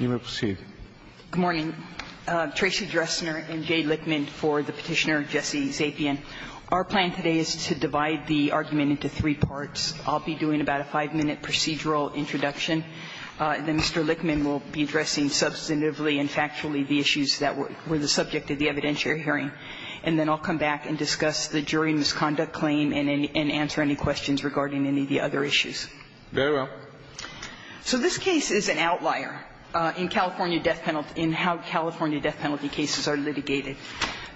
Good morning. Tracy Dressner and Jay Lickman for the petitioner Jesse Zapien. Our plan today is to divide the argument into three parts. I'll be doing about a five-minute procedural introduction. Then Mr. Lickman will be addressing substantively and factually the issues that were the subject of the evidentiary hearing. And then I'll come back and discuss the jury misconduct claim and answer any questions regarding any of the other issues. Very well. So this case is an outlier in California death penalty, in how California death penalty cases are litigated.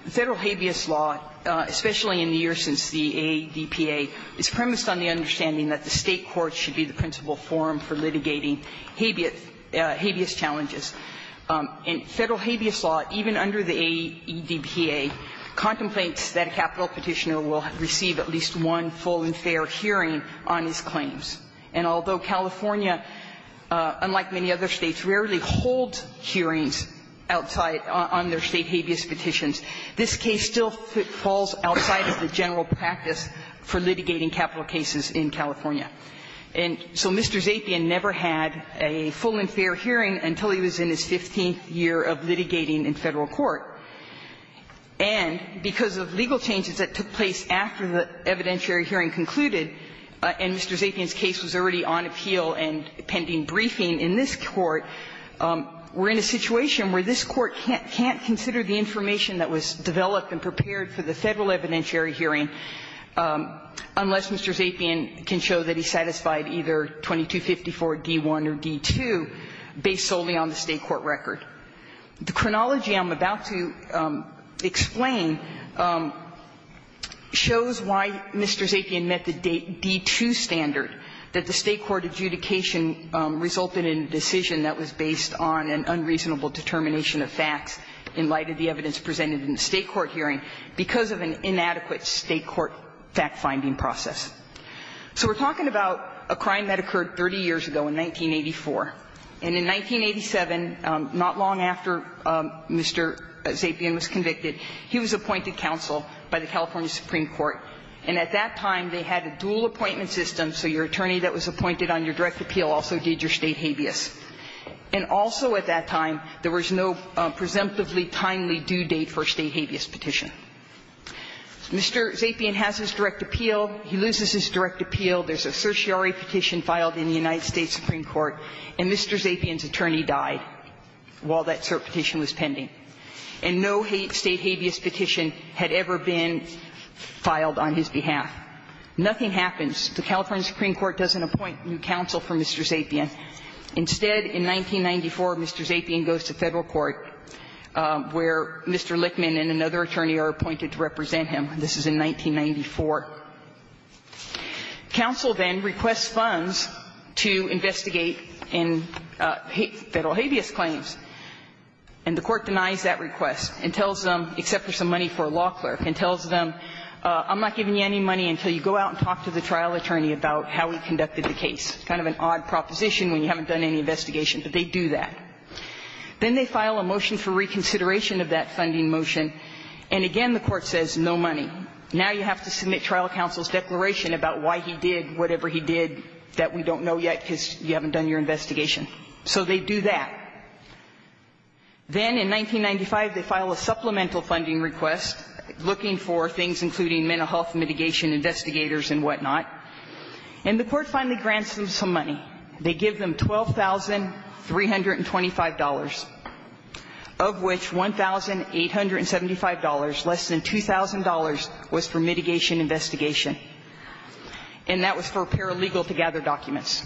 Federal habeas law, especially in the years since the ADPA, is premised on the understanding that the State courts should be the principal forum for litigating habeas challenges. And Federal habeas law, even under the ADPA, contemplates that a capital petitioner will receive at least one full and fair hearing on his claims. And although California, unlike many other States, rarely holds hearings outside on their State habeas petitions, this case still falls outside of the general practice for litigating capital cases in California. And so Mr. Zapien never had a full and fair hearing until he was in his 15th year of litigating in Federal court. And because of legal changes that took place after the evidentiary hearing concluded and Mr. Zapien's case was already on appeal and pending briefing in this court, we're in a situation where this Court can't consider the information that was developed and prepared for the Federal evidentiary hearing unless Mr. Zapien can show that he satisfied either 2254 D.I. or D.II. based solely on the State court record. The chronology I'm about to explain shows why Mr. Zapien met the D.II. standard, that the State court adjudication resulted in a decision that was based on an unreasonable determination of facts in light of the evidence presented in the State court hearing because of an inadequate State court fact-finding process. So we're talking about a crime that occurred 30 years ago in 1984. And in 1987, not long after Mr. Zapien was convicted, he was appointed counsel by the California Supreme Court. And at that time, they had a dual appointment system, so your attorney that was appointed on your direct appeal also did your State habeas. And also at that time, there was no presumptively timely due date for a State habeas petition. Mr. Zapien has his direct appeal. He loses his direct appeal. There's a certiorari petition filed in the United States Supreme Court, and Mr. Zapien's attorney died while that cert petition was pending. And no State habeas petition had ever been filed on his behalf. Nothing happens. The California Supreme Court doesn't appoint new counsel for Mr. Zapien. Instead, in 1994, Mr. Zapien goes to Federal court where Mr. Lichtman and another attorney are appointed to represent him. This is in 1994. Counsel then requests funds to investigate in Federal habeas claims, and the court denies that request and tells them, except for some money for a law clerk, and tells them, I'm not giving you any money until you go out and talk to the trial attorney about how we conducted the case. Kind of an odd proposition when you haven't done any investigation, but they do that. Then they file a motion for reconsideration of that funding motion, and again, the court says no money. Now you have to submit trial counsel's declaration about why he did whatever he did that we don't know yet because you haven't done your investigation. So they do that. Then in 1995, they file a supplemental funding request looking for things including mental health mitigation investigators and whatnot. And the court finally grants them some money. They give them $12,325, of which $1,875, less than $2,000, was for mitigation investigation, and that was for a pair of legal-to-gather documents.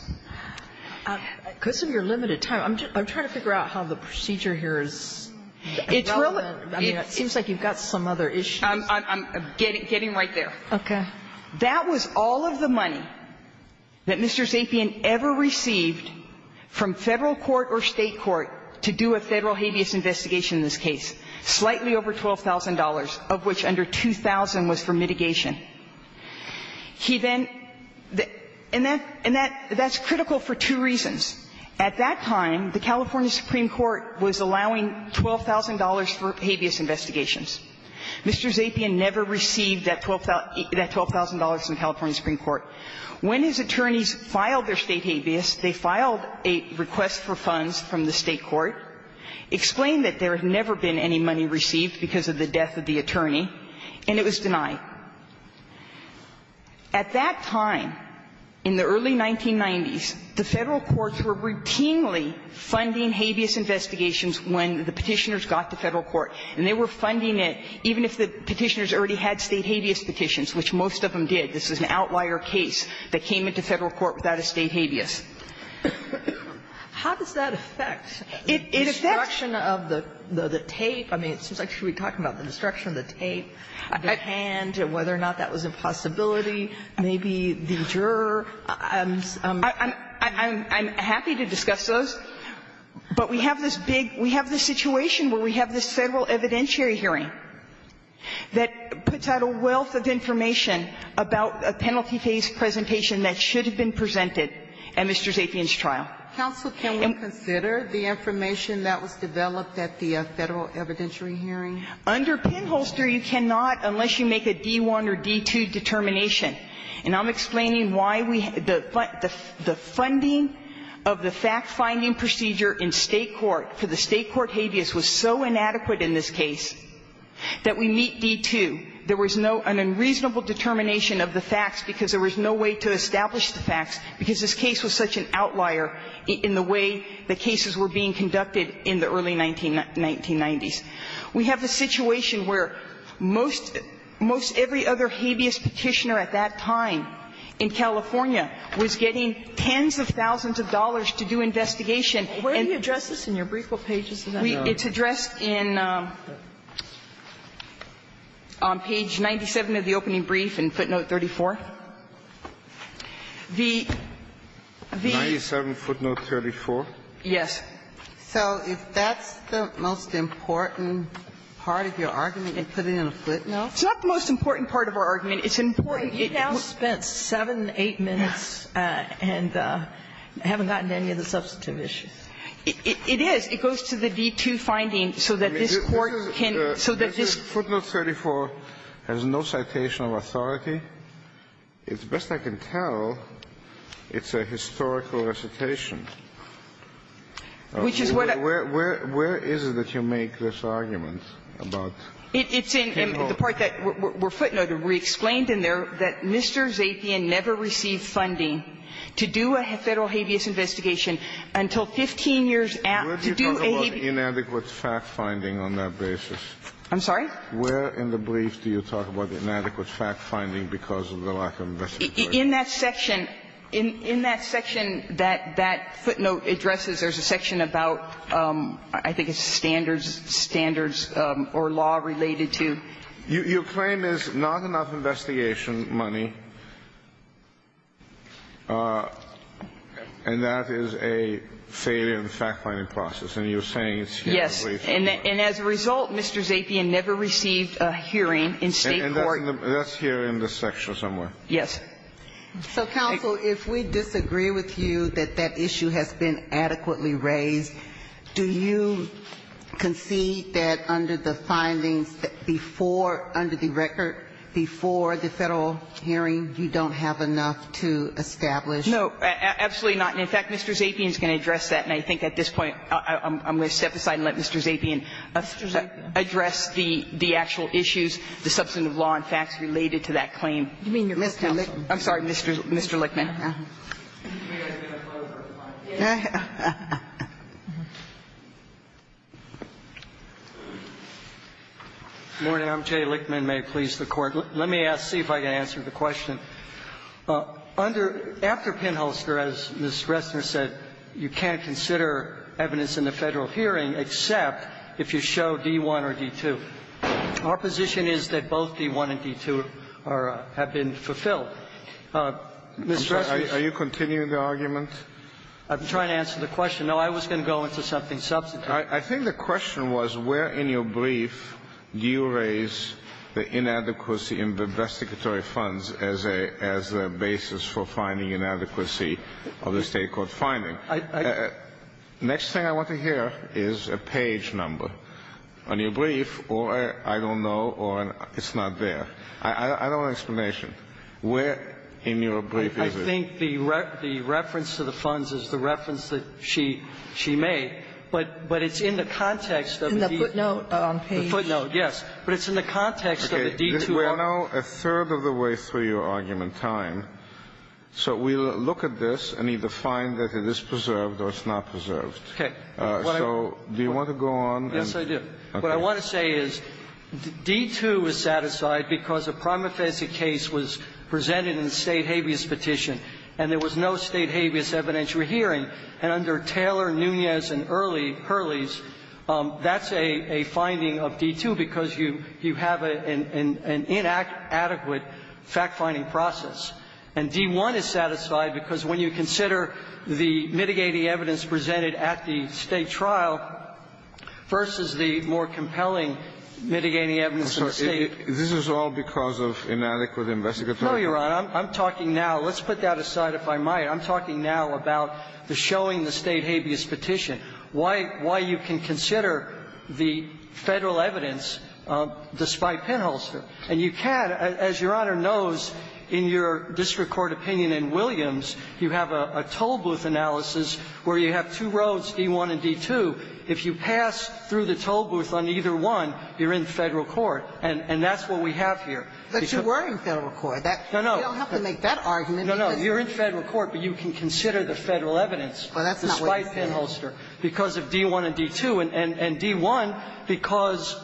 Because of your limited time, I'm trying to figure out how the procedure here is relevant. I mean, it seems like you've got some other issues. I'm getting right there. Okay. That was all of the money that Mr. Zapien ever received from Federal court or State court to do a Federal habeas investigation in this case, slightly over $12,000, of which under $2,000 was for mitigation. He then – and that's critical for two reasons. At that time, the California Supreme Court was allowing $12,000 for habeas investigations. Mr. Zapien never received that $12,000 from California Supreme Court. When his attorneys filed their State habeas, they filed a request for funds from the State court, explained that there had never been any money received because of the death of the attorney, and it was denied. At that time, in the early 1990s, the Federal courts were routinely funding habeas investigations when the Petitioners got to Federal court. And they were funding it even if the Petitioners already had State habeas petitions, which most of them did. This is an outlier case that came into Federal court without a State habeas. How does that affect the destruction of the tape? I mean, it seems like she would be talking about the destruction of the tape, the hand, whether or not that was a possibility, maybe the juror. I'm happy to discuss those, but we have this big we have this situation where we have this Federal evidentiary hearing that puts out a wealth of information about a penalty case presentation that should have been presented at Mr. Zapien's trial. Counsel, can we consider the information that was developed at the Federal evidentiary hearing? Under pinholster, you cannot unless you make a D-1 or D-2 determination. And I'm explaining why we the funding of the fact-finding procedure in State court for the State court habeas was so inadequate in this case that we meet D-2. There was no an unreasonable determination of the facts because there was no way to establish the facts because this case was such an outlier in the way the cases were being conducted in the early 1990s. We have the situation where most most every other habeas petitioner at that time in California was getting tens of thousands of dollars to do investigation. And where do you address this in your brief book pages that I know of? It's addressed in page 97 of the opening brief in footnote 34. The, the. 97 footnote 34? Yes. So if that's the most important part of your argument, you put it in a footnote? It's not the most important part of our argument. It's important. You now spent 7, 8 minutes and haven't gotten any of the substantive issues. It is. It goes to the D-2 finding so that this Court can, so that this. Footnote 34 has no citation of authority. It's best I can tell it's a historical recitation. Which is what I. Where, where, where is it that you make this argument about? It's in the part that we're footnoting. We explained in there that Mr. Zapien never received funding to do a Federal habeas investigation until 15 years after. Where do you talk about inadequate fact-finding on that basis? I'm sorry? Where in the brief do you talk about inadequate fact-finding because of the lack of investigation? In that section, in that section that that footnote addresses, there's a section about, I think it's standards, standards or law related to. Your claim is not enough investigation money, and that is a failure in the fact-finding process, and you're saying it's here in the brief. Yes. And as a result, Mr. Zapien never received a hearing in State court. And that's here in this section somewhere. So counsel, if we disagree with you that that issue has been adequately raised, do you concede that under the findings before, under the record before the Federal hearing, you don't have enough to establish? No, absolutely not. And in fact, Mr. Zapien is going to address that. And I think at this point I'm going to step aside and let Mr. Zapien address the actual issues, the substantive law and facts related to that claim. You mean your Mr. Lichtman? I'm sorry, Mr. Lichtman. Good morning. I'm Jay Lichtman. May it please the Court. Let me ask, see if I can answer the question. Under, after Pinholster, as Ms. Ressner said, you can't consider evidence in the Federal hearing except if you show D-1 or D-2. Our position is that both D-1 and D-2 are, have been fulfilled. Ms. Ressner. Are you continuing the argument? I'm trying to answer the question. No, I was going to go into something substantive. I think the question was where in your brief do you raise the inadequacy in investigatory funds as a, as a basis for finding inadequacy of the State court finding? Next thing I want to hear is a page number on your brief, or I don't know, or it's not there. I don't want an explanation. Where in your brief is it? I think the reference to the funds is the reference that she made, but it's in the context of the D-2. In the footnote on page. The footnote, yes. But it's in the context of the D-2. We're now a third of the way through your argument time. So we'll look at this and either find that it is preserved or it's not preserved. Okay. So do you want to go on? Yes, I do. Okay. What I want to say is D-2 was satisfied because a prime offensive case was presented in the State habeas petition, and there was no State habeas evidentiary hearing. And under Taylor, Nunez, and Hurley, Hurley's, that's a, a finding of D-2 because you, you have an, an, an inadequate fact-finding process. And D-1 is satisfied because when you consider the mitigating evidence presented at the State trial versus the more compelling mitigating evidence in the State. I'm sorry. This is all because of inadequate investigatory. No, Your Honor. I'm talking now. Let's put that aside, if I might. I'm talking now about the showing the State habeas petition, why, why you can consider the Federal evidence despite pinholster. And you can, as Your Honor knows, in your district court opinion in Williams, you have a, a tollbooth analysis where you have two roads, D-1 and D-2. If you pass through the tollbooth on either one, you're in Federal court. And, and that's what we have here. But you were in Federal court. No, no. You don't have to make that argument. No, no. You're in Federal court, but you can consider the Federal evidence despite pinholster because of D-1 and D-2, and, and, and D-1 because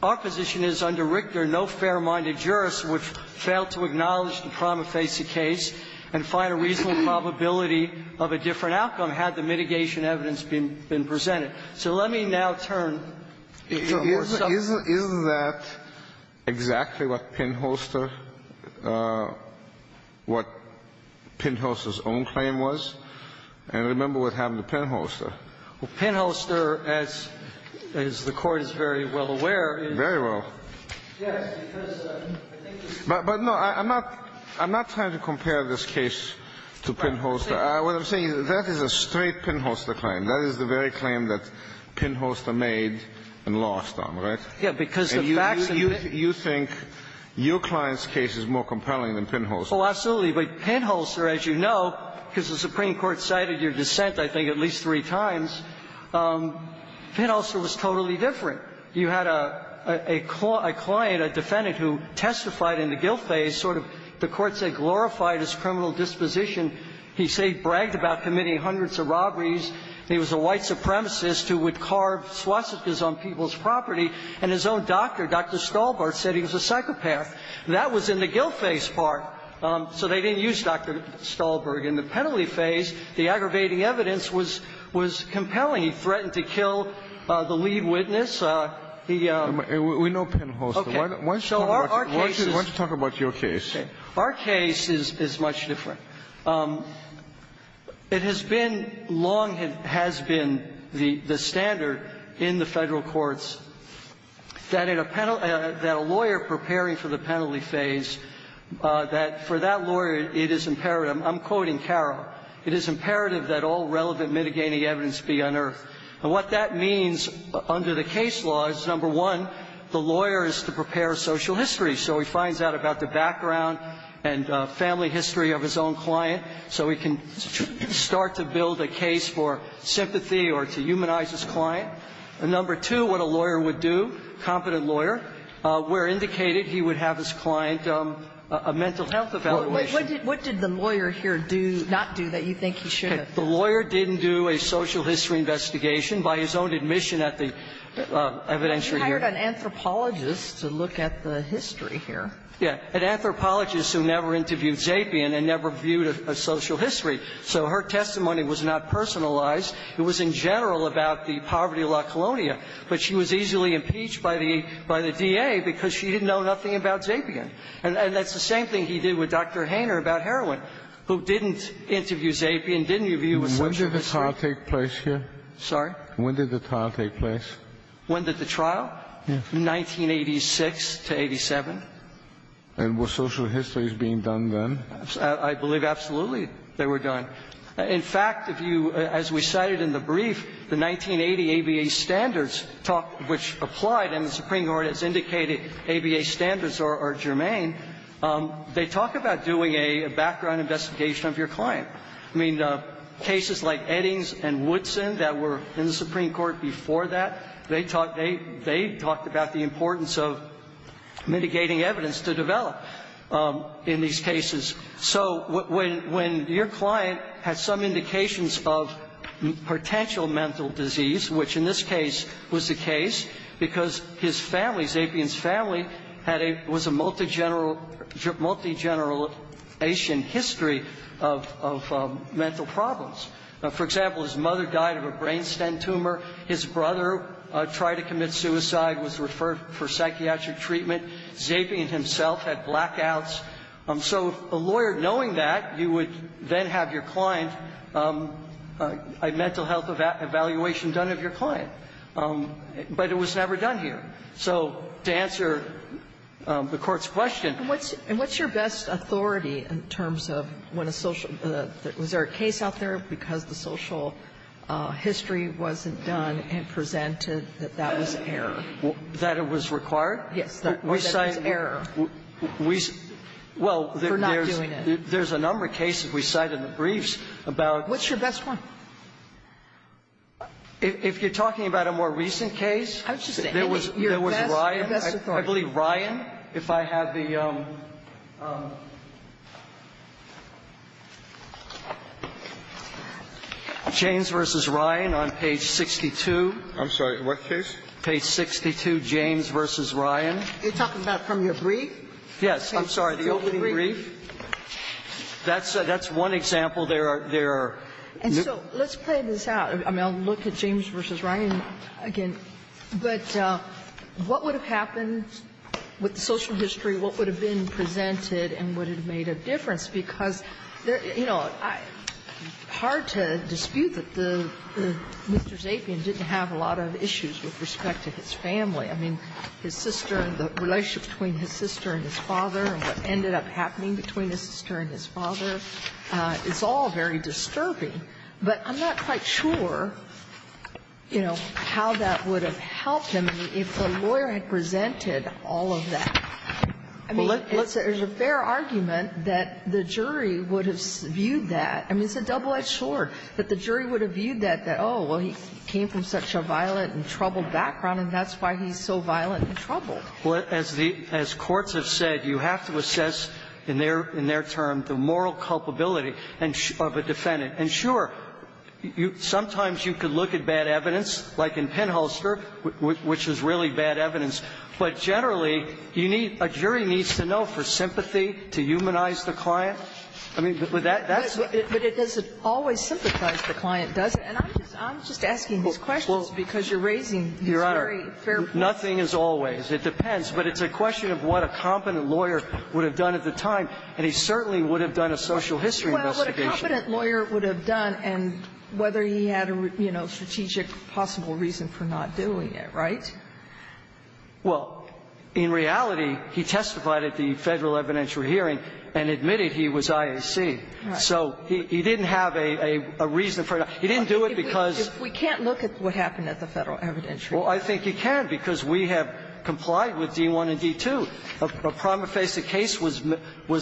our position is under Richter no fair-minded jurist would fail to acknowledge the prima facie case and find a reasonable probability of a different outcome had the mitigation evidence been, been presented. So let me now turn to the more subtle. So is, is, is that exactly what pinholster, what pinholster's own claim was? And remember what happened to pinholster. Well, pinholster, as, as the Court is very well aware, is. Very well. Yes, because I think it's. But, but no, I'm not, I'm not trying to compare this case to pinholster. What I'm saying is that is a straight pinholster claim. That is the very claim that pinholster made and lost on, right? Yes, because the facts. And you, you, you think your client's case is more compelling than pinholster's. Oh, absolutely. But pinholster, as you know, because the Supreme Court cited your dissent, I think, at least three times, pinholster was totally different. You had a, a client, a defendant who testified in the gill phase, sort of the courts had glorified his criminal disposition. He bragged about committing hundreds of robberies. He was a white supremacist who would carve swastikas on people's property. And his own doctor, Dr. Stolbart, said he was a psychopath. That was in the gill phase part. So they didn't use Dr. Stolbart. In the penalty phase, the aggravating evidence was, was compelling. He threatened to kill the lead witness. He uh. We know pinholster. Okay. So our case is. Why don't you talk about your case? Okay. Our case is, is much different. It has been long has been the, the standard in the Federal courts that in a penalty phase, that for that lawyer, it is imperative. I'm quoting Carroll. It is imperative that all relevant mitigating evidence be unearthed. And what that means under the case law is, number one, the lawyer is to prepare social history. So he finds out about the background and family history of his own client. So he can start to build a case for sympathy or to humanize his client. And number two, what a lawyer would do, competent lawyer, where indicated he would have his client a mental health evaluation. What did, what did the lawyer here do, not do that you think he should have? The lawyer didn't do a social history investigation by his own admission at the evidentiary hearing. You hired an anthropologist to look at the history here. Yeah. An anthropologist who never interviewed Zapian and never viewed a social history. So her testimony was not personalized. It was in general about the poverty of La Colonia. But she was easily impeached by the, by the DA because she didn't know nothing about Zapian. And that's the same thing he did with Dr. Hainer about heroin, who didn't interview Zapian, didn't interview a social history. When did the trial take place here? Sorry? When did the trial take place? When did the trial? Yeah. 1986 to 87. And were social histories being done then? I believe absolutely they were done. In fact, if you, as we cited in the brief, the 1980 ABA standards talk, which applied and the Supreme Court has indicated ABA standards are, are germane. They talk about doing a background investigation of your client. I mean, cases like Eddings and Woodson that were in the Supreme Court before that, they talked, they, they talked about the importance of mitigating evidence to develop in these cases. So when, when your client has some indications of potential mental disease, which in this case was the case, because his family, Zapian's family, had a, was a multigeneral, multigenerational history of, of mental problems. For example, his mother died of a brain stem tumor. His brother tried to commit suicide, was referred for psychiatric treatment. Zapian himself had blackouts. So a lawyer knowing that, you would then have your client, a mental health evaluation done of your client. But it was never done here. So to answer the Court's question. And what's, and what's your best authority in terms of when a social, was there a case out there because the social history wasn't done and presented that that was error? That it was required? Yes. That it was error. We, well, there's, there's a number of cases we cite in the briefs about. What's your best one? If, if you're talking about a more recent case, there was, there was Ryan. I believe Ryan, if I have the, James v. Ryan on page 62. I'm sorry, what case? Page 62, James v. Ryan. You're talking about from your brief? Yes. I'm sorry. The opening brief? That's, that's one example there are, there are. And so let's play this out. I mean, I'll look at James v. Ryan again. But what would have happened with the social history? What would have been presented and would have made a difference? Because there, you know, hard to dispute that the, Mr. Zapian didn't have a lot of issues with respect to his family. I mean, his sister and the relationship between his sister and his father and what ended up happening between his sister and his father, it's all very disturbing. But I'm not quite sure, you know, how that would have helped him if the lawyer had presented all of that. I mean, it's a fair argument that the jury would have viewed that. I mean, it's a double-edged sword. But the jury would have viewed that, that, oh, well, he came from such a violent and troubled background, and that's why he's so violent and troubled. Well, as the, as courts have said, you have to assess in their, in their term the moral culpability of a defendant. And sure, you, sometimes you could look at bad evidence, like in Penholster, which is really bad evidence. But generally, you need, a jury needs to know for sympathy to humanize the client. I mean, that's. But it doesn't always sympathize the client, does it? And I'm just asking these questions because you're raising these very fair points. Your Honor, nothing is always. It depends. But it's a question of what a competent lawyer would have done at the time. And he certainly would have done a social history investigation. Well, what a competent lawyer would have done and whether he had a, you know, strategic possible reason for not doing it, right? Well, in reality, he testified at the Federal evidentiary hearing and admitted he was IAC. Right. So he didn't have a reason for it. He didn't do it because. We can't look at what happened at the Federal evidentiary. Well, I think you can because we have complied with D-1 and D-2. A prima facie case was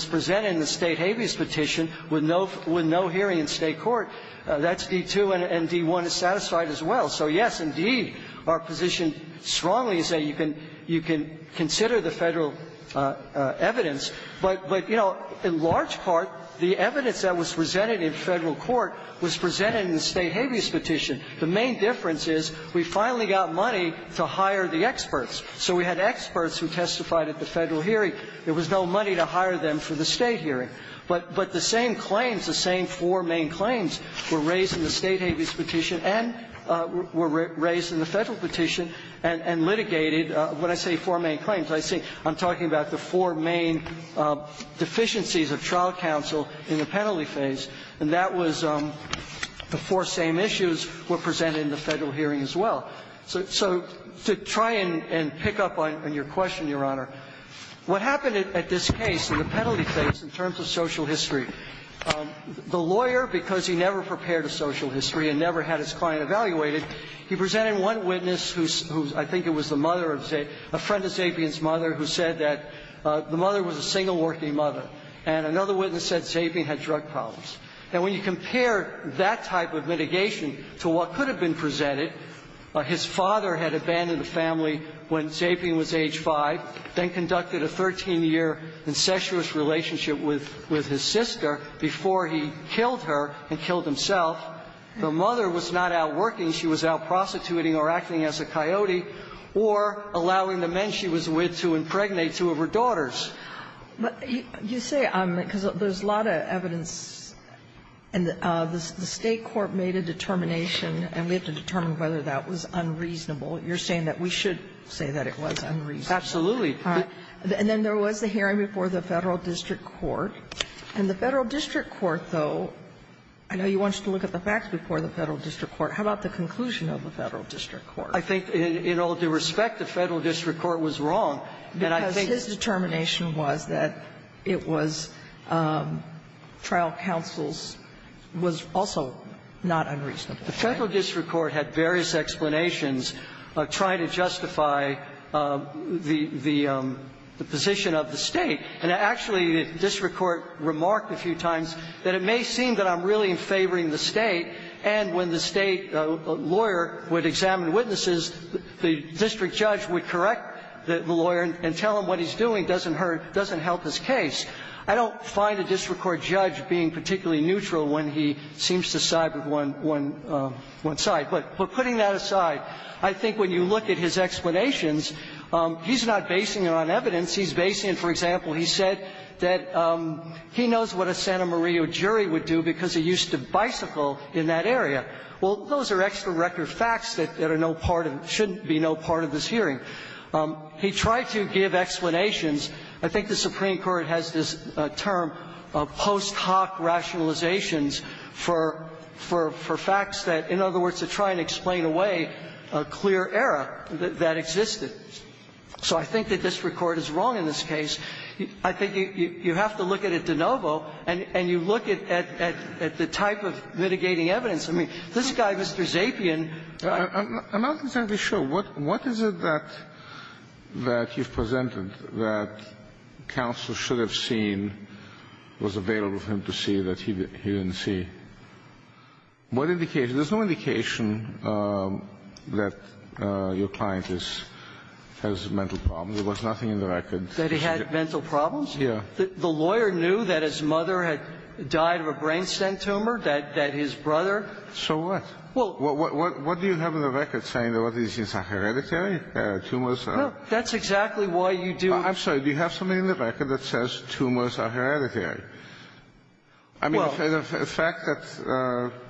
presented in the State habeas petition with no hearing in State court. That's D-2 and D-1 is satisfied as well. So, yes, indeed, our position strongly is that you can consider the Federal evidence. But, you know, in large part, the evidence that was presented in Federal court was presented in the State habeas petition. The main difference is we finally got money to hire the experts. So we had experts who testified at the Federal hearing. There was no money to hire them for the State hearing. But the same claims, the same four main claims were raised in the State habeas petition and were raised in the Federal petition and litigated, when I say four main deficiencies of trial counsel in the penalty phase. And that was the four same issues were presented in the Federal hearing as well. So to try and pick up on your question, Your Honor, what happened at this case in the penalty phase in terms of social history, the lawyer, because he never prepared a social history and never had his client evaluated, he presented one witness who, I think it was the mother of Zabian, a friend of Zabian's mother, who said that the mother was a single working mother. And another witness said Zabian had drug problems. Now, when you compare that type of mitigation to what could have been presented, his father had abandoned the family when Zabian was age 5, then conducted a 13-year incestuous relationship with his sister before he killed her and killed himself. The mother was not out working. She was out prostituting or acting as a coyote or allowing the men she was with to impregnate two of her daughters. But you say, because there's a lot of evidence, and the State court made a determination, and we have to determine whether that was unreasonable. You're saying that we should say that it was unreasonable. Absolutely. And then there was the hearing before the Federal district court. And the Federal district court, though, I know you want us to look at the facts before the Federal district court. How about the conclusion of the Federal district court? I think in all due respect, the Federal district court was wrong. Because his determination was that it was trial counsel's was also not unreasonable. The Federal district court had various explanations trying to justify the position of the State. And actually, the district court remarked a few times that it may seem that I'm really in favoring the State, and when the State lawyer would examine witnesses, the district judge would correct the lawyer and tell him what he's doing doesn't help his case. I don't find a district court judge being particularly neutral when he seems to side with one side. But putting that aside, I think when you look at his explanations, he's not basing it on evidence. He's basing it, for example, he said that he knows what a Santa Maria jury would do because he used to bicycle in that area. Well, those are extra record facts that are no part of the – shouldn't be no part of this hearing. He tried to give explanations. I think the Supreme Court has this term, post hoc rationalizations for facts that – in other words, to try and explain away a clear error that existed. So I think that district court is wrong in this case. I think you have to look at it de novo, and you look at the type of mitigating evidence. I mean, this guy, Mr. Zapien – I'm not exactly sure. What is it that you've presented that counsel should have seen was available for him to see that he didn't see? What indication? There's no indication that your client is – has mental problems. There was nothing in the record. That he had mental problems? Yeah. The lawyer knew that his mother had died of a brain stem tumor, that his brother? So what? Well – What do you have in the record saying that all these things are hereditary, tumors are? No. That's exactly why you do – Do you have something in the record that says tumors are hereditary? I mean, the fact that –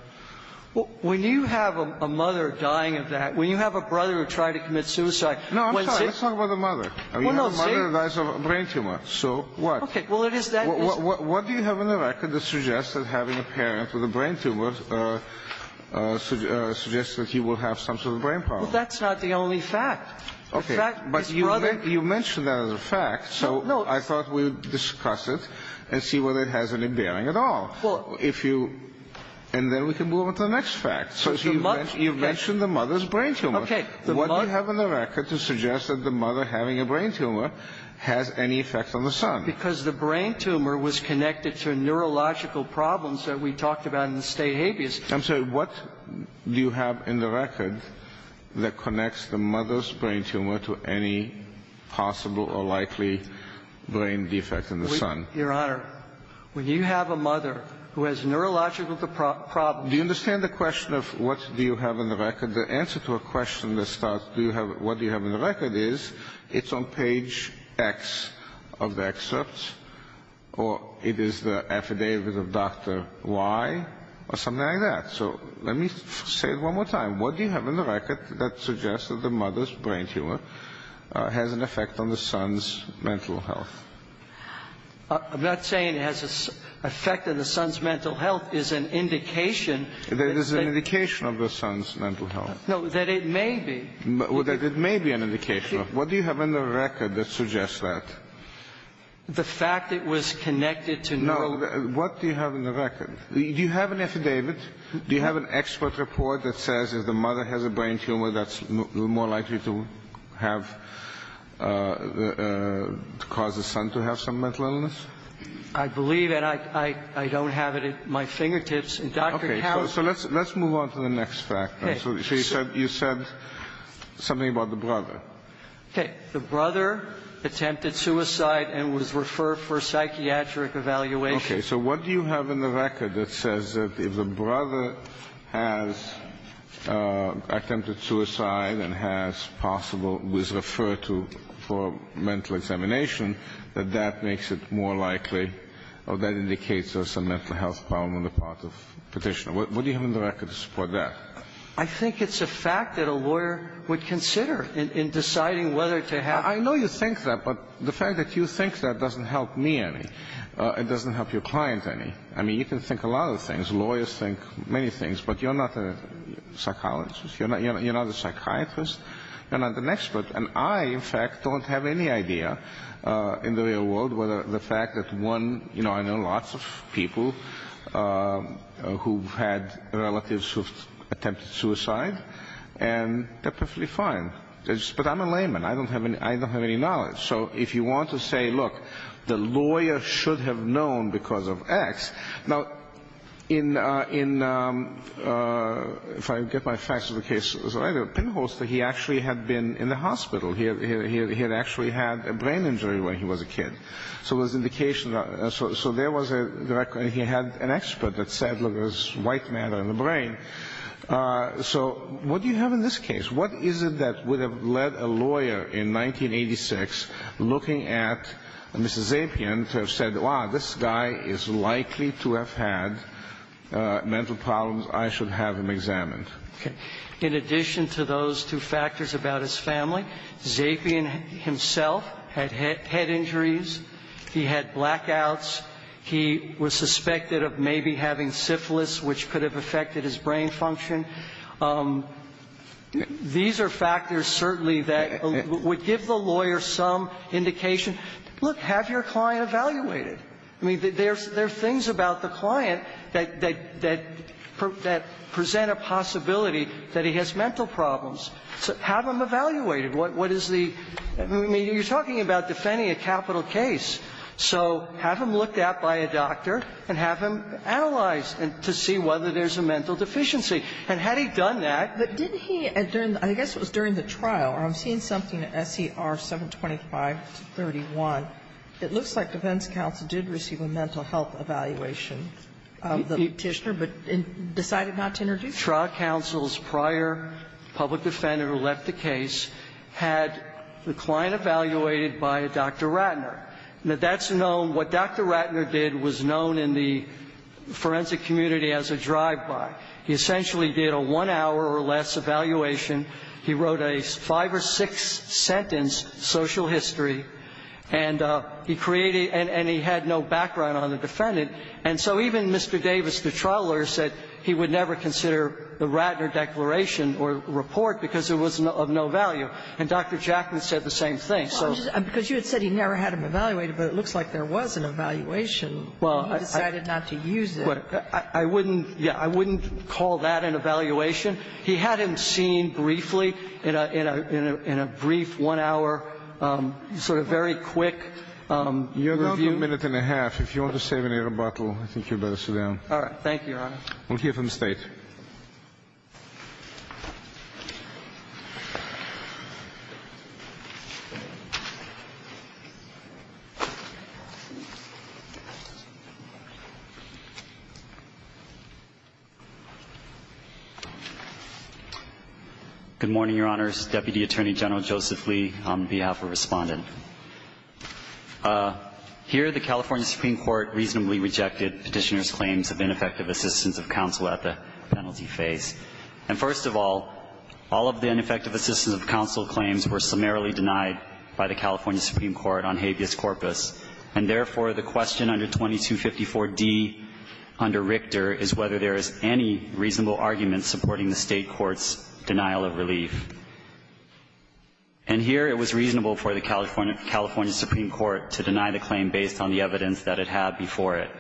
When you have a mother dying of that, when you have a brother who tried to commit suicide – No, I'm sorry. Let's talk about the mother. I mean, you have a mother that dies of a brain tumor. So what? Okay. Well, it is that – What do you have in the record that suggests that having a parent with a brain tumor suggests that he will have some sort of brain problem? Well, that's not the only fact. Okay. But you mentioned that as a fact. So I thought we would discuss it. And see whether it has any bearing at all. Well – If you – And then we can move on to the next fact. So you mentioned the mother's brain tumor. Okay. What do you have in the record to suggest that the mother having a brain tumor has any effect on the son? Because the brain tumor was connected to neurological problems that we talked about in the state habeas. I'm sorry. What do you have in the record that connects the mother's brain tumor to any possible or likely brain defect in the son? Your Honor, when you have a mother who has neurological problems – Do you understand the question of what do you have in the record? The answer to a question that starts what do you have in the record is it's on page X of the excerpt or it is the affidavit of Dr. Y or something like that. So let me say it one more time. What do you have in the record that suggests that the mother's brain tumor has an effect on the son's mental health? I'm not saying it has an effect on the son's mental health. It is an indication. It is an indication of the son's mental health. No, that it may be. That it may be an indication. What do you have in the record that suggests that? The fact it was connected to neurological problems. No. What do you have in the record? Do you have an affidavit? Do you have an expert report that says if the mother has a brain tumor, that's more likely to cause the son to have some mental illness? I believe, and I don't have it at my fingertips. Okay. So let's move on to the next fact. Okay. So you said something about the brother. Okay. The brother attempted suicide and was referred for psychiatric evaluation. Okay. So what do you have in the record that says that if the brother has attempted suicide and has possible, was referred to for mental examination, that that makes it more likely or that indicates there's some mental health problem on the part of petitioner? What do you have in the record to support that? I think it's a fact that a lawyer would consider in deciding whether to have. I know you think that, but the fact that you think that doesn't help me any. It doesn't help your client any. I mean, you can think a lot of things. Lawyers think many things, but you're not a psychologist. You're not a psychiatrist. You're not an expert. And I, in fact, don't have any idea in the real world whether the fact that one, you know, I know lots of people who've had relatives who've attempted suicide, and they're perfectly fine. But I'm a layman. I don't have any knowledge. So if you want to say, look, the lawyer should have known because of X. Now, in, if I get my facts of the case right, a pinholster, he actually had been in the hospital. He had actually had a brain injury when he was a kid. So there was indication. So there was a record. He had an expert that said, look, there's white matter in the brain. So what do you have in this case? What is it that would have led a lawyer in 1986 looking at Mr. Zapien to have said, wow, this guy is likely to have had mental problems. I should have him examined. Okay. In addition to those two factors about his family, Zapien himself had head injuries. He had blackouts. He was suspected of maybe having syphilis, which could have affected his brain function. And these are factors certainly that would give the lawyer some indication. Look, have your client evaluated. I mean, there's things about the client that present a possibility that he has mental problems. Have him evaluated. What is the – I mean, you're talking about defending a capital case. So have him looked at by a doctor and have him analyzed to see whether there's a mental deficiency. And had he done that? But didn't he – I guess it was during the trial, or I'm seeing something at SER 725-31. It looks like defense counsel did receive a mental health evaluation of the Petitioner but decided not to introduce it. Trial counsel's prior public defender who left the case had the client evaluated by a Dr. Ratner. Now, that's known – what Dr. Ratner did was known in the forensic community as a drive-by. He essentially did a one-hour or less evaluation. He wrote a five- or six-sentence social history. And he created – and he had no background on the defendant. And so even Mr. Davis, the trial lawyer, said he would never consider the Ratner declaration or report because it was of no value. And Dr. Jackman said the same thing. So – Because you had said he never had him evaluated, but it looks like there was an evaluation and he decided not to use it. That's what – I wouldn't – yeah, I wouldn't call that an evaluation. He had him seen briefly in a – in a brief one-hour sort of very quick review. You have about a minute and a half. If you want to save an air bottle, I think you'd better sit down. All right. Thank you, Your Honor. We'll hear from State. Good morning, Your Honors. Deputy Attorney General Joseph Lee on behalf of Respondent. Here, the California Supreme Court reasonably rejected Petitioner's claims of ineffective assistance of counsel at the penalty phase. And first of all, all of the ineffective assistance of counsel claims were summarily denied by the California Supreme Court on habeas corpus. And therefore, the question under 2254d under Richter is whether there is any reasonable argument supporting the State court's denial of relief. And here, it was reasonable for the California Supreme Court to deny the claim based on the evidence that it had before it.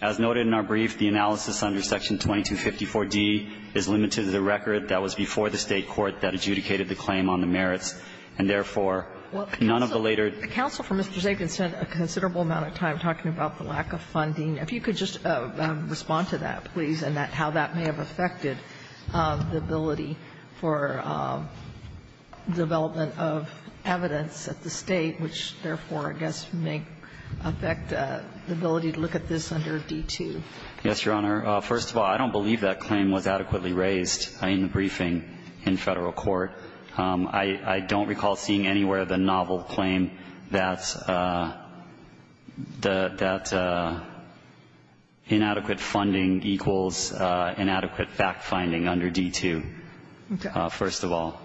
As noted in our brief, the analysis under Section 2254d is limited to the record that was before the State court that adjudicated the claim on the merits. And therefore, none of the later ---- Counsel for Mr. Zakin spent a considerable amount of time talking about the lack of funding. If you could just respond to that, please, and how that may have affected the ability for development of evidence at the State, which therefore, I guess, may affect the ability to look at this under D-2. Yes, Your Honor. First of all, I don't believe that claim was adequately raised in the briefing in Federal court. I don't recall seeing anywhere the novel claim that the ---- that inadequate funding equals inadequate fact-finding under D-2. Okay. First of all.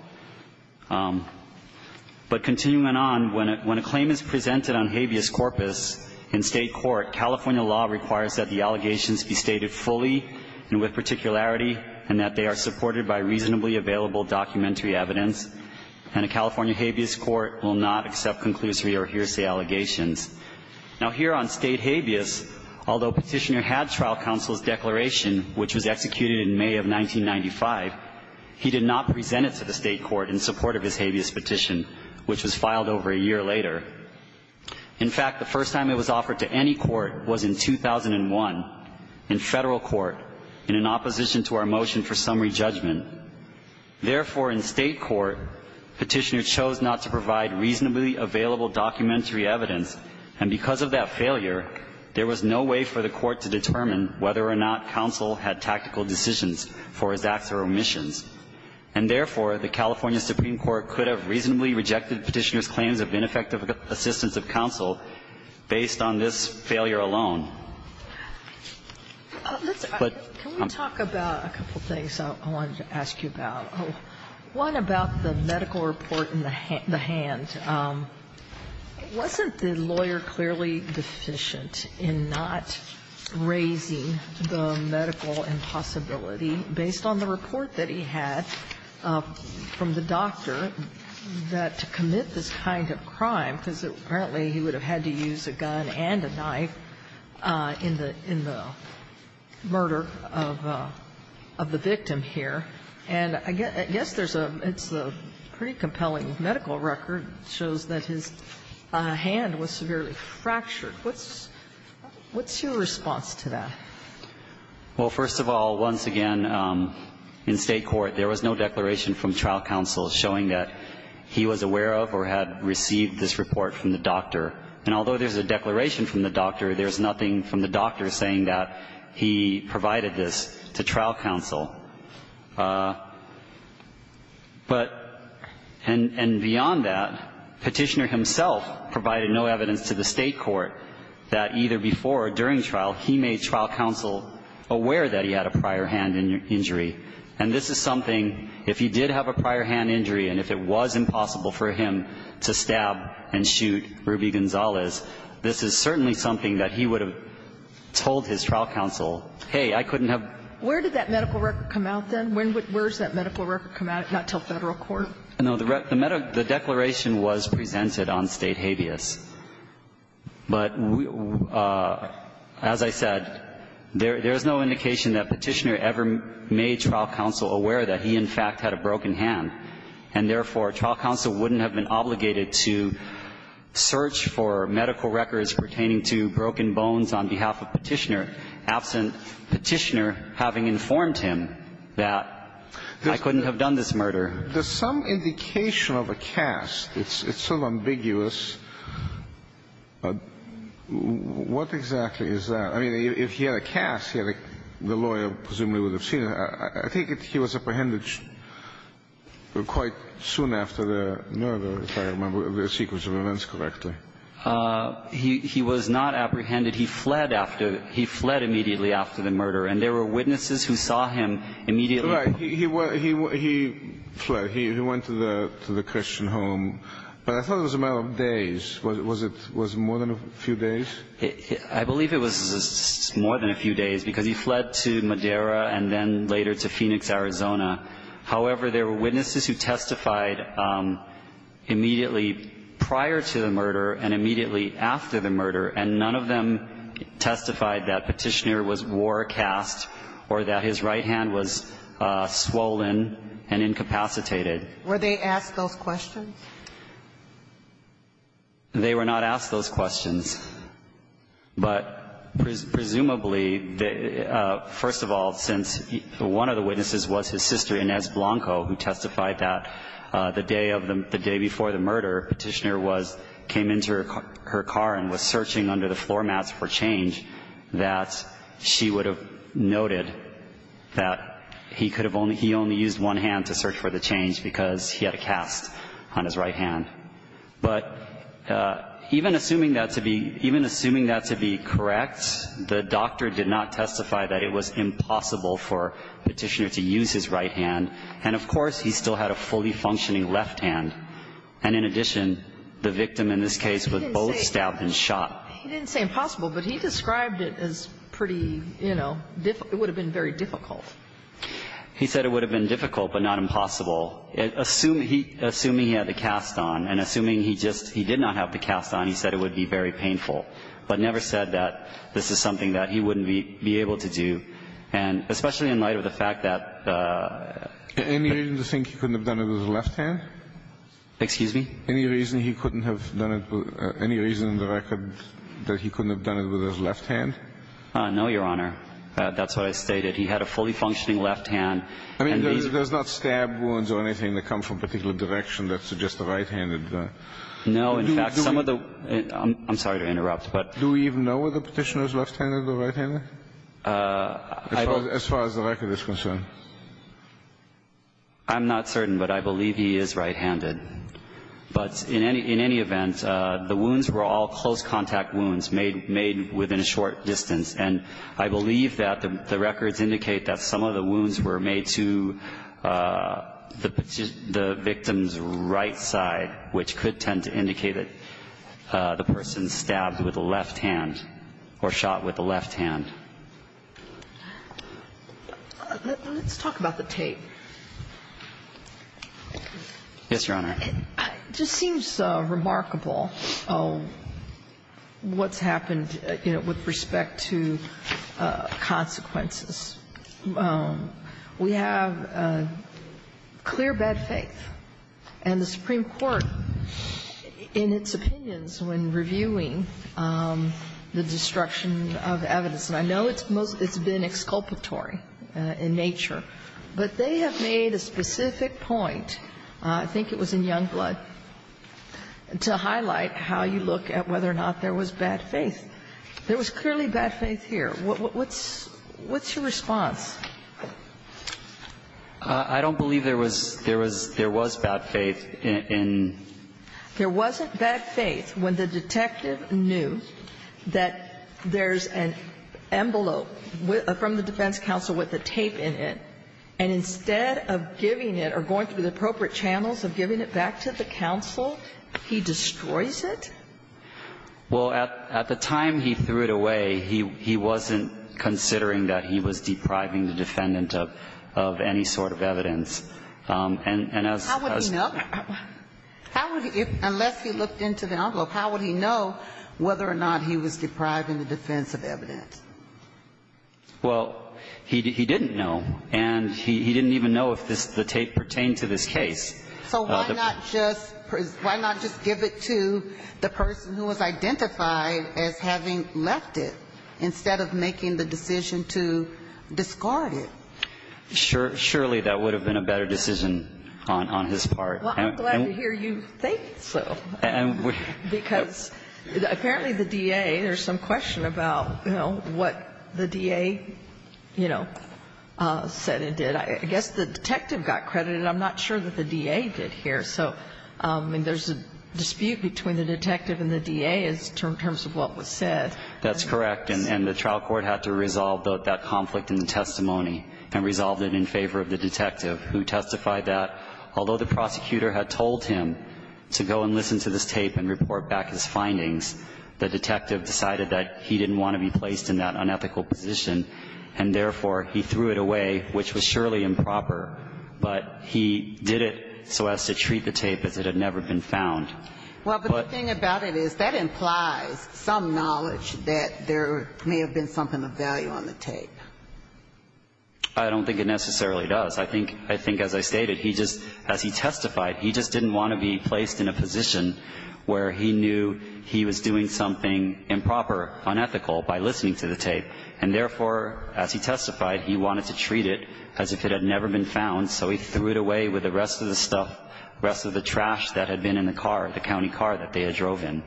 But continuing on, when a claim is presented on habeas corpus in State court, California law requires that the allegations be stated fully and with particularity and that they are supported by reasonably available documentary evidence. And a California habeas court will not accept conclusory or hearsay allegations. Now, here on State habeas, although Petitioner had trial counsel's declaration, which was executed in May of 1995, he did not present it to the State court in support of his habeas petition, which was filed over a year later. In fact, the first time it was offered to any court was in 2001 in Federal court in an opposition to our motion for summary judgment. Therefore, in State court, Petitioner chose not to provide reasonably available documentary evidence, and because of that failure, there was no way for the court to determine whether or not counsel had tactical decisions for his acts or omissions. And therefore, the California Supreme Court could have reasonably rejected Petitioner's claims of ineffective assistance of counsel based on this failure alone. But ---- Sotomayor, can we talk about a couple of things I wanted to ask you about? One about the medical report in the hand. Wasn't the lawyer clearly deficient in not raising the medical impossibility based on the report that he had from the doctor that to commit this kind of crime, because apparently he would have had to use a gun and a knife in the murder of the victim here. And I guess there's a ---- it's a pretty compelling medical record, shows that his hand was severely fractured. What's your response to that? Well, first of all, once again, in State court, there was no declaration from trial counsel showing that he was aware of or had received this report from the doctor. And although there's a declaration from the doctor, there's nothing from the doctor saying that he provided this to trial counsel. But ---- and beyond that, Petitioner himself provided no evidence to the State court that either before or during trial, he made trial counsel aware that he had a prior hand injury. And this is something, if he did have a prior hand injury and if it was impossible for him to stab and shoot Ruby Gonzalez, this is certainly something that he would have told his trial counsel, hey, I couldn't have ---- Where did that medical record come out, then? When would ---- where does that medical record come out, not until Federal court? No. The declaration was presented on State habeas. But as I said, there's no indication that Petitioner ever made trial counsel aware that he, in fact, had a broken hand. And therefore, trial counsel wouldn't have been obligated to search for medical records pertaining to broken bones on behalf of Petitioner, absent Petitioner having informed him that I couldn't have done this murder. There's some indication of a cast. It's so ambiguous. What exactly is that? I mean, if he had a cast, the lawyer presumably would have seen it. I think he was apprehended quite soon after the murder, if I remember the sequence of events correctly. He was not apprehended. He fled after ---- he fled immediately after the murder. And there were witnesses who saw him immediately. Right. He fled. He went to the Christian home. But I thought it was a matter of days. Was it more than a few days? I believe it was more than a few days, because he fled to Madera and then later to Phoenix, Arizona. However, there were witnesses who testified immediately prior to the murder and immediately after the murder, and none of them testified that Petitioner was wore a cast or that his right hand was swollen and incapacitated. Were they asked those questions? They were not asked those questions. But presumably, first of all, since one of the witnesses was his sister, Inez Blanco, who testified that the day of the ---- the day before the murder, Petitioner was ---- came into her car and was searching under the floor mats for change, that she would have noted that he could have only ---- he only used one hand to search for the change because he had a cast on his right hand. But even assuming that to be ---- even assuming that to be correct, the doctor did not testify that it was impossible for Petitioner to use his right hand. And of course, he still had a fully functioning left hand. And in addition, the victim in this case was both stabbed and shot. He didn't say impossible, but he described it as pretty, you know, difficult. It would have been very difficult. He said it would have been difficult, but not impossible. Assuming he had the cast on and assuming he just ---- he did not have the cast on, he said it would be very painful, but never said that this is something that he wouldn't be able to do. And especially in light of the fact that ---- Any reason to think he couldn't have done it with his left hand? Excuse me? Any reason he couldn't have done it with ---- any reason in the record that he couldn't have done it with his left hand? No, Your Honor. That's what I stated. He had a fully functioning left hand. I mean, there's not stab wounds or anything that come from a particular direction that suggests a right-handed. No. In fact, some of the ---- I'm sorry to interrupt, but ---- Do we even know if the Petitioner is left-handed or right-handed as far as the record is concerned? I'm not certain, but I believe he is right-handed. But in any event, the wounds were all close contact wounds made within a short distance. And I believe that the records indicate that some of the wounds were made to the victim's right side, which could tend to indicate that the person stabbed with the left hand or shot with the left hand. Let's talk about the tape. Yes, Your Honor. It just seems remarkable what's happened, you know, with respect to consequences. We have clear bad faith. And the Supreme Court, in its opinions when reviewing the destruction of evidence ---- and I know it's been exculpatory in nature, but they have made a specific point, I think it was in Youngblood, to highlight how you look at whether or not there was bad faith. There was clearly bad faith here. What's your response? I don't believe there was bad faith in ---- There wasn't bad faith when the detective knew that there's an envelope from the defense counsel with the tape in it, and instead of giving it or going through the appropriate channels of giving it back to the counsel, he destroys it? Well, at the time he threw it away, he wasn't considering that he was depriving the defendant of any sort of evidence. And as ---- How would he know? Unless he looked into the envelope, how would he know whether or not he was depriving the defense of evidence? Well, he didn't know. And he didn't even know if the tape pertained to this case. So why not just give it to the person who was identified as having left it instead of making the decision to discard it? Surely that would have been a better decision on his part. Well, I'm glad to hear you think so. Because apparently the DA, there's some question about, you know, what the DA, you know, said and did. I guess the detective got credited. I'm not sure that the DA did here. So there's a dispute between the detective and the DA in terms of what was said. That's correct. And the trial court had to resolve that conflict in the testimony and resolved it in favor of the detective, who testified that although the prosecutor had told him to go and listen to this tape and report back his findings, the detective decided that he didn't want to be placed in that unethical position, and therefore he threw it away, which was surely improper. But he did it so as to treat the tape as it had never been found. Well, but the thing about it is that implies some knowledge that there may have been something of value on the tape. I don't think it necessarily does. I think as I stated, he just, as he testified, he just didn't want to be placed in a position where he knew he was doing something improper, unethical, by listening to the tape. And therefore, as he testified, he wanted to treat it as if it had never been found, so he threw it away with the rest of the stuff, the rest of the trash that had been in the car, the county car that they had drove in.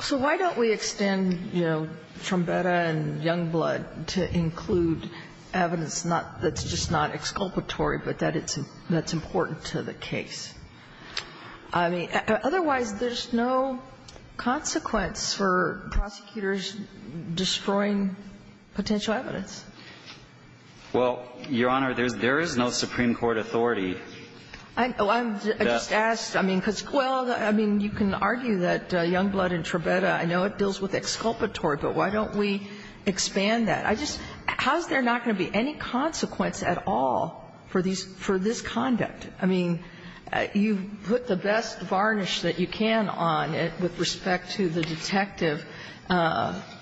So why don't we extend, you know, Trombetta and Youngblood to include evidence that's not, that's just not exculpatory, but that's important to the case? I mean, otherwise, there's no consequence for prosecutors destroying potential evidence. Well, Your Honor, there is no Supreme Court authority. I know. I just asked, I mean, because, well, I mean, you can argue that Youngblood and Trombetta, I know it deals with exculpatory, but why don't we expand that? I just, how's there not going to be any consequence at all for these, for this conduct? I mean, you put the best varnish that you can on it with respect to the detective,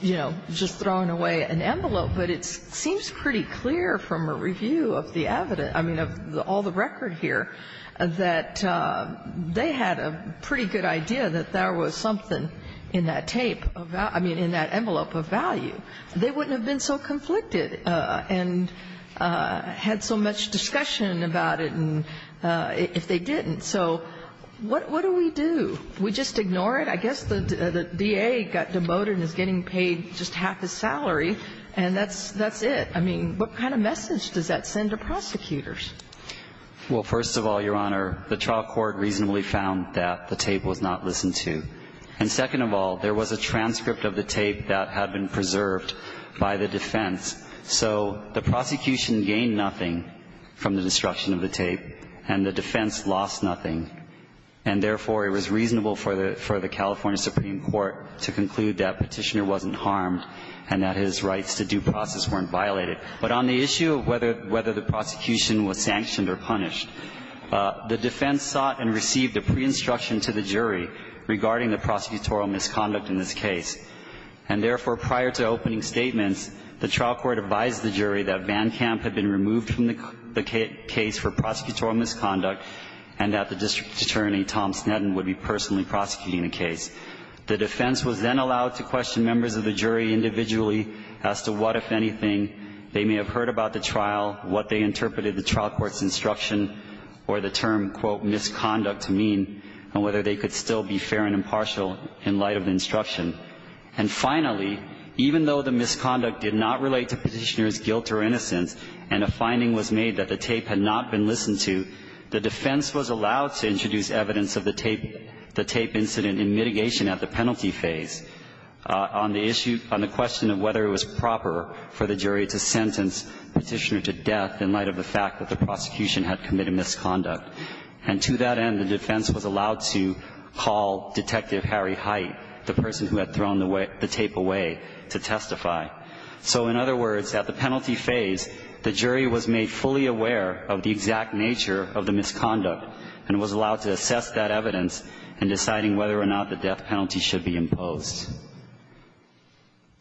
you know, just throwing away an envelope, but it seems pretty clear from a review of the evidence, I mean, of all the record here, that they had a pretty good idea that there was something in that tape, I mean, in that envelope of value. They wouldn't have been so conflicted and had so much discussion about it if they didn't. So what do we do? We just ignore it? I guess the DA got demoted and is getting paid just half his salary, and that's it. I mean, what kind of message does that send to prosecutors? Well, first of all, Your Honor, the trial court reasonably found that the tape was not listened to. And second of all, there was a transcript of the tape that had been preserved by the defense. So the prosecution gained nothing from the destruction of the tape, and the defense lost nothing. And therefore, it was reasonable for the California Supreme Court to conclude that Petitioner wasn't harmed and that his rights to due process weren't violated. But on the issue of whether the prosecution was sanctioned or punished, the defense sought and received a pre-instruction to the jury regarding the prosecutorial misconduct in this case. And therefore, prior to opening statements, the trial court advised the jury that VanCamp had been removed from the case for prosecutorial misconduct and that the District Attorney, Tom Sneddon, would be personally prosecuting the case. The defense was then allowed to question members of the jury individually as to what, if anything, they may have heard about the trial, what they interpreted the trial court's instruction or the term, quote, misconduct to mean, and whether they could still be fair and impartial in light of the instruction. And finally, even though the misconduct did not relate to Petitioner's guilt or innocence and a finding was made that the tape had not been listened to, the defense was allowed to introduce evidence of the tape incident in mitigation at the penalty phase on the issue of the question of whether it was proper for the jury to sentence Petitioner to death in light of the fact that the prosecution had committed misconduct. And to that end, the defense was allowed to call Detective Harry Height, the person who had thrown the tape away, to testify. So in other words, at the penalty phase, the jury was made fully aware of the exact nature of the misconduct and was allowed to assess that evidence in deciding whether or not the death penalty should be imposed.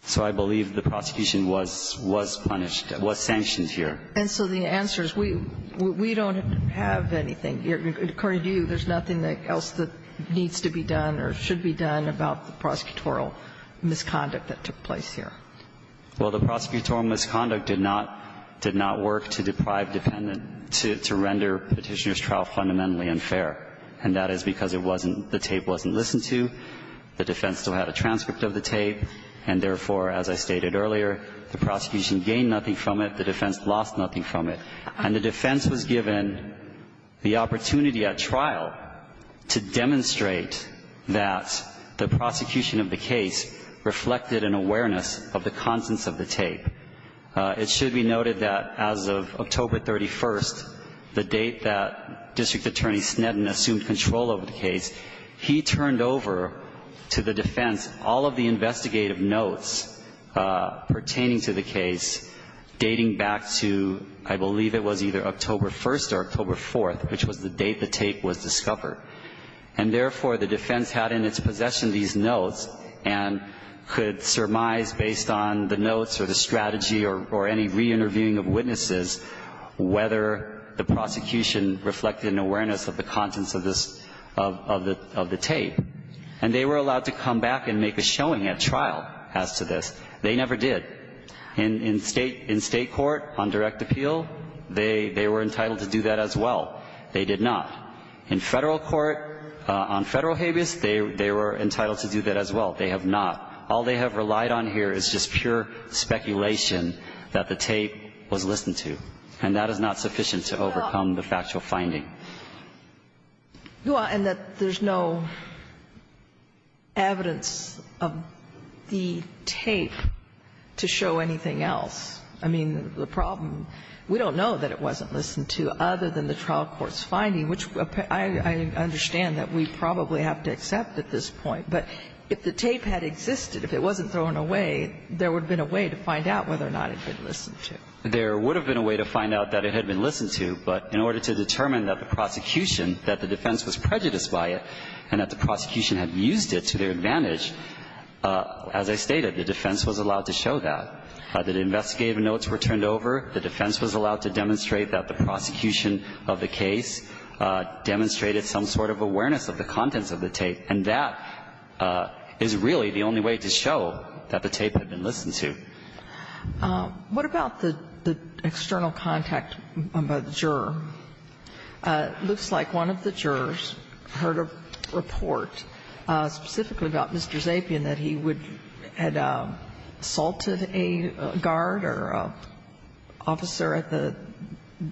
So I believe the prosecution was punished, was sanctioned here. And so the answer is we don't have anything. According to you, there's nothing else that needs to be done or should be done about the prosecutorial misconduct that took place here. Well, the prosecutorial misconduct did not work to deprive the defendant, to render Petitioner's trial fundamentally unfair. And that is because it wasn't the tape wasn't listened to, the defense still had a transcript of the tape, and therefore, as I stated earlier, the prosecution gained nothing from it, the defense lost nothing from it. And the defense was given the opportunity at trial to demonstrate that the prosecution of the case reflected an awareness of the contents of the tape. It should be noted that as of October 31st, the date that District Attorney Sneddon assumed control over the case, he turned over to the defense all of the investigative notes pertaining to the case, dating back to, I believe it was either October 1st or October 4th, which was the date the tape was discovered. And therefore, the defense had in its possession these notes and could surmise based on the notes or the strategy or any reinterviewing of witnesses whether the prosecution reflected an awareness of the contents of this, of the tape. And they were allowed to come back and make a showing at trial as to this. They never did. In State court, on direct appeal, they were entitled to do that as well. They did not. In Federal court, on Federal habeas, they were entitled to do that as well. They have not. All they have relied on here is just pure speculation that the tape was listened to, and that is not sufficient to overcome the factual finding. And that there's no evidence of the tape to show anything else. I mean, the problem, we don't know that it wasn't listened to other than the trial court's finding, which I understand that we probably have to accept at this point. But if the tape had existed, if it wasn't thrown away, there would have been a way to find out whether or not it had been listened to. There would have been a way to find out that it had been listened to. But in order to determine that the prosecution, that the defense was prejudiced by it, and that the prosecution had used it to their advantage, as I stated, the defense was allowed to show that. The investigative notes were turned over. The defense was allowed to demonstrate that the prosecution of the case demonstrated some sort of awareness of the contents of the tape. And that is really the only way to show that the tape had been listened to. What about the external contact by the juror? It looks like one of the jurors heard a report specifically about Mr. Zapien that he would have assaulted a guard or an officer at the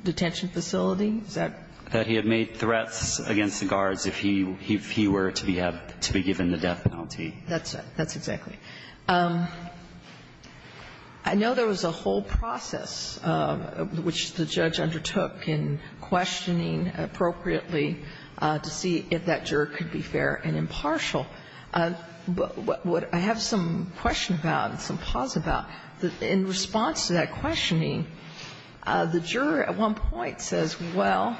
detention facility. Is that? That he had made threats against the guards if he were to be given the death penalty. That's it. That's exactly it. I know there was a whole process which the judge undertook in questioning appropriately to see if that juror could be fair and impartial. But what I have some question about and some pause about, in response to that questioning, the juror at one point says, well,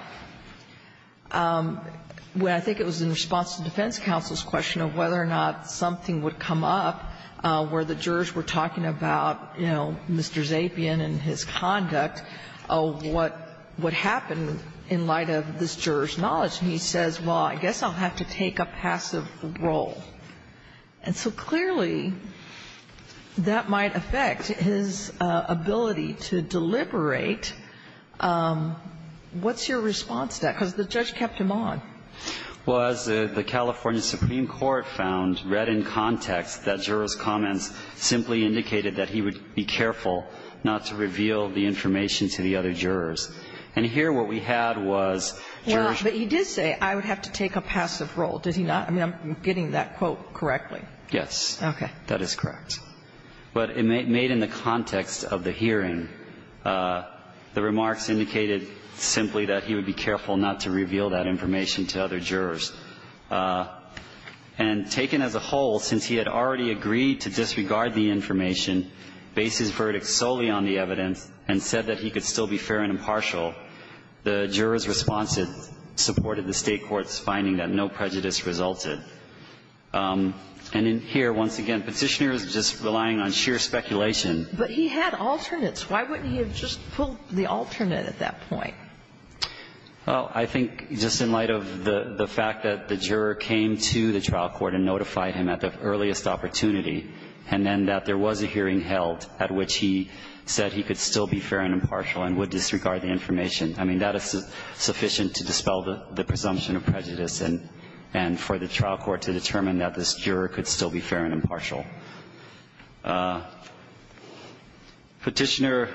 when I think it was in response to the defense counsel's question of whether or not something would come up where the jurors were talking about, you know, Mr. Zapien and his conduct, what happened in light of this juror's knowledge? And he says, well, I guess I'll have to take a passive role. And so clearly that might affect his ability to deliberate. What's your response to that? Because the judge kept him on. Well, as the California Supreme Court found, read in context, that juror's comments simply indicated that he would be careful not to reveal the information to the other jurors. And here what we had was jurors ---- Well, but he did say, I would have to take a passive role. Did he not? I mean, I'm getting that quote correctly. Yes. Okay. That is correct. But made in the context of the hearing, the remarks indicated simply that he would be careful not to reveal that information to other jurors. And taken as a whole, since he had already agreed to disregard the information, based his verdict solely on the evidence, and said that he could still be fair and impartial, the juror's response supported the State court's finding that no prejudice resulted. And in here, once again, Petitioner is just relying on sheer speculation. But he had alternates. Why wouldn't he have just pulled the alternate at that point? Well, I think just in light of the fact that the juror came to the trial court and notified him at the earliest opportunity, and then that there was a hearing held at which he said he could still be fair and impartial and would disregard the information, I mean, that is sufficient to dispel the presumption of prejudice and for the trial court to determine that this juror could still be fair and impartial. Petitioner,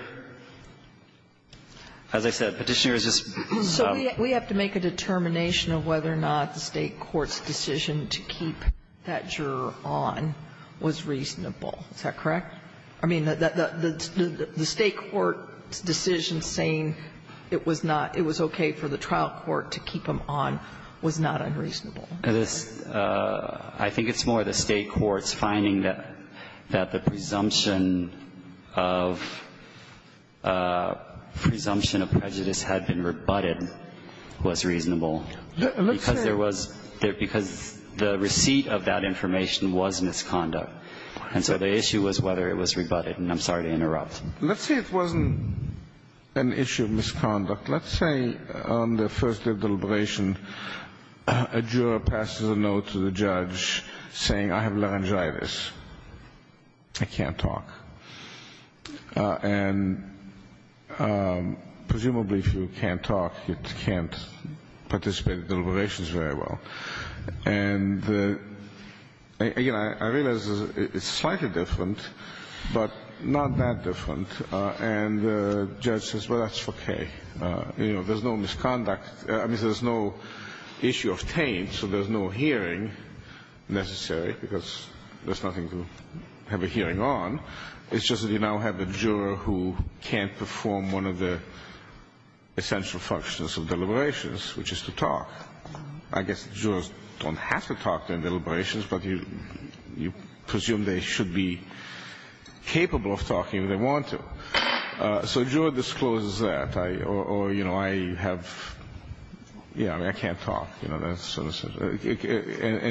as I said, Petitioner is just ---- So we have to make a determination of whether or not the State court's decision to keep that juror on was reasonable, is that correct? I mean, the State court's decision saying it was not, it was okay for the trial court to keep him on was not unreasonable. This ---- I think it's more the State court's finding that the presumption of ---- presumption of prejudice had been rebutted was reasonable. Let's say ---- Because there was ---- because the receipt of that information was misconduct. And so the issue was whether it was rebutted. And I'm sorry to interrupt. Let's say it wasn't an issue of misconduct. Let's say on the first day of deliberation, a juror passes a note to the judge saying, I have laryngitis. I can't talk. And presumably if you can't talk, you can't participate in deliberations very well. And again, I realize it's slightly different, but not that different. And the judge says, well, that's okay. You know, there's no misconduct. I mean, there's no issue of taint, so there's no hearing necessary because there's nothing to have a hearing on. It's just that you now have a juror who can't perform one of the essential functions of deliberations, which is to talk. I guess jurors don't have to talk in deliberations, but you presume they should be capable of talking if they want to. So a juror discloses that. Or, you know, I have, yeah, I mean, I can't talk. And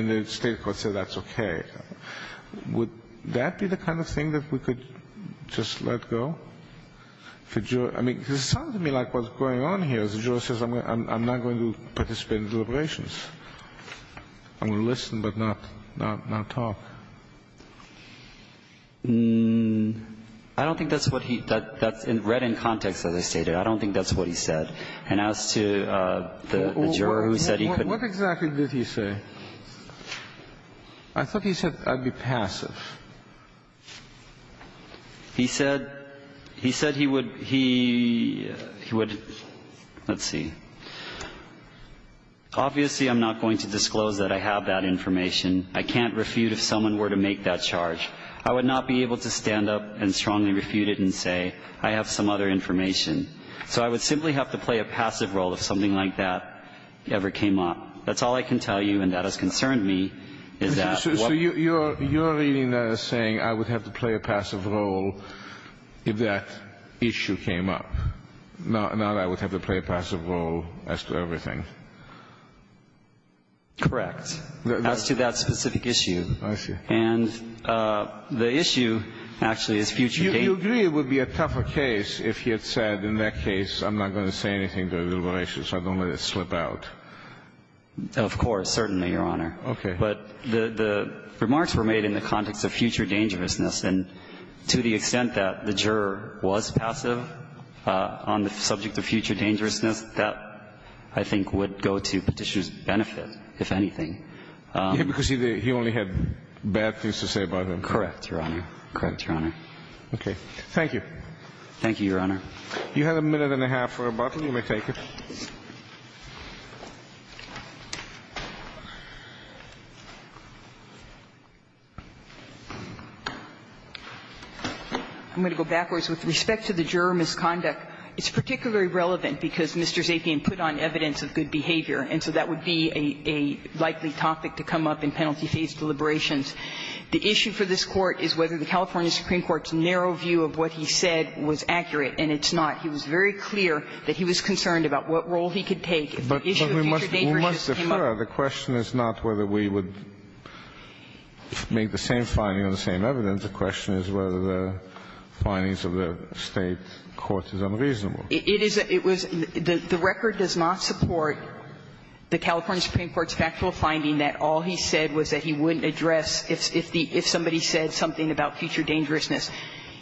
the state court said that's okay. Would that be the kind of thing that we could just let go? I mean, it sounded to me like what's going on here is a juror says I'm not going to participate in deliberations. I'm going to listen but not talk. I don't think that's what he – that's read in context, as I stated. I don't think that's what he said. And as to the juror who said he couldn't. What exactly did he say? I thought he said I'd be passive. He said he would – he would – let's see. Obviously, I'm not going to disclose that I have that information. I can't refute if someone were to make that charge. I would not be able to stand up and strongly refute it and say I have some other information. So I would simply have to play a passive role if something like that ever came up. That's all I can tell you, and that has concerned me, is that what – So you're reading that as saying I would have to play a passive role if that issue came up, not I would have to play a passive role as to everything. Correct. As to that specific issue. I see. And the issue actually is future – Do you agree it would be a tougher case if he had said in that case I'm not going to say anything to a deliberation, so I don't let it slip out? Of course. Certainly, Your Honor. Okay. But the remarks were made in the context of future dangerousness, and to the extent that the juror was passive on the subject of future dangerousness, that, I think, would go to Petitioner's benefit, if anything. Because he only had bad things to say about him. Correct, Your Honor. Correct, Your Honor. Okay. Thank you. Thank you, Your Honor. You have a minute and a half for rebuttal. You may take it. I'm going to go backwards. With respect to the juror misconduct, it's particularly relevant because Mr. Zapien put on evidence of good behavior. And so that would be a likely topic to come up in penalty-phase deliberations. The issue for this Court is whether the California Supreme Court's narrow view of what he said was accurate, and it's not. He was very clear that he was concerned about what role he could take if the issue of future dangerousness came up. But we must defer. The question is not whether we would make the same finding on the same evidence. The question is whether the findings of the State court is unreasonable. It was the record does not support the California Supreme Court's factual finding that all he said was that he wouldn't address if somebody said something about future dangerousness.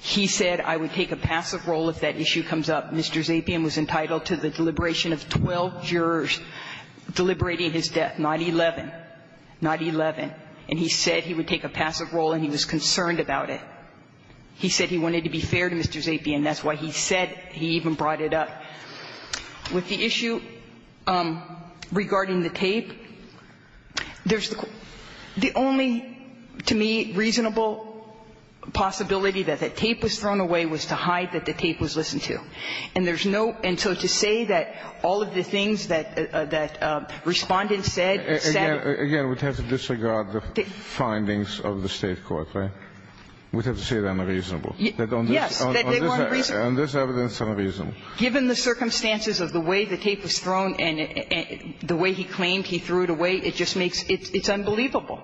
He said, I would take a passive role if that issue comes up. Mr. Zapien was entitled to the deliberation of 12 jurors deliberating his death, not 11. Not 11. And he said he would take a passive role and he was concerned about it. He said he wanted to be fair to Mr. Zapien. That's why he said he even brought it up. With the issue regarding the tape, there's the only, to me, reasonable possibility that the tape was thrown away was to hide that the tape was listened to. And there's no – and so to say that all of the things that Respondent said, said that the tape was thrown away. Again, we'd have to disregard the findings of the State court, right? We'd have to say they're unreasonable. Yes. And this evidence is unreasonable. Given the circumstances of the way the tape was thrown and the way he claimed he threw it away, it just makes – it's unbelievable.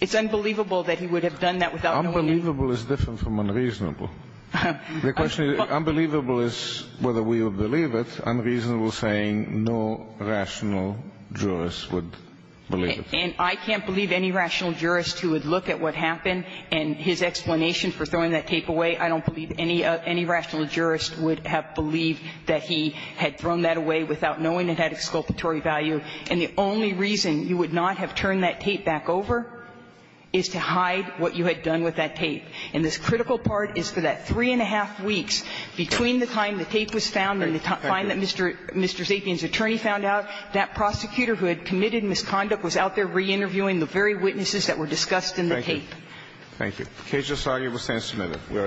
It's unbelievable that he would have done that without knowing. Unbelievable is different from unreasonable. The question is, unbelievable is whether we would believe it. Unreasonable is saying no rational jurist would believe it. And I can't believe any rational jurist who would look at what happened and his explanation for throwing that tape away, I don't believe any rational jurist would have believed that he had thrown that away without knowing it had exculpatory value. And the only reason you would not have turned that tape back over is to hide what you had done with that tape. And this critical part is for that three and a half weeks between the time the tape was found and the time that Mr. Zapian's attorney found out, that prosecutor who had committed misconduct was out there reinterviewing the very witnesses that were discussed in the tape. Thank you. Thank you. The case is arguable. It stands submitted. We are adjourned.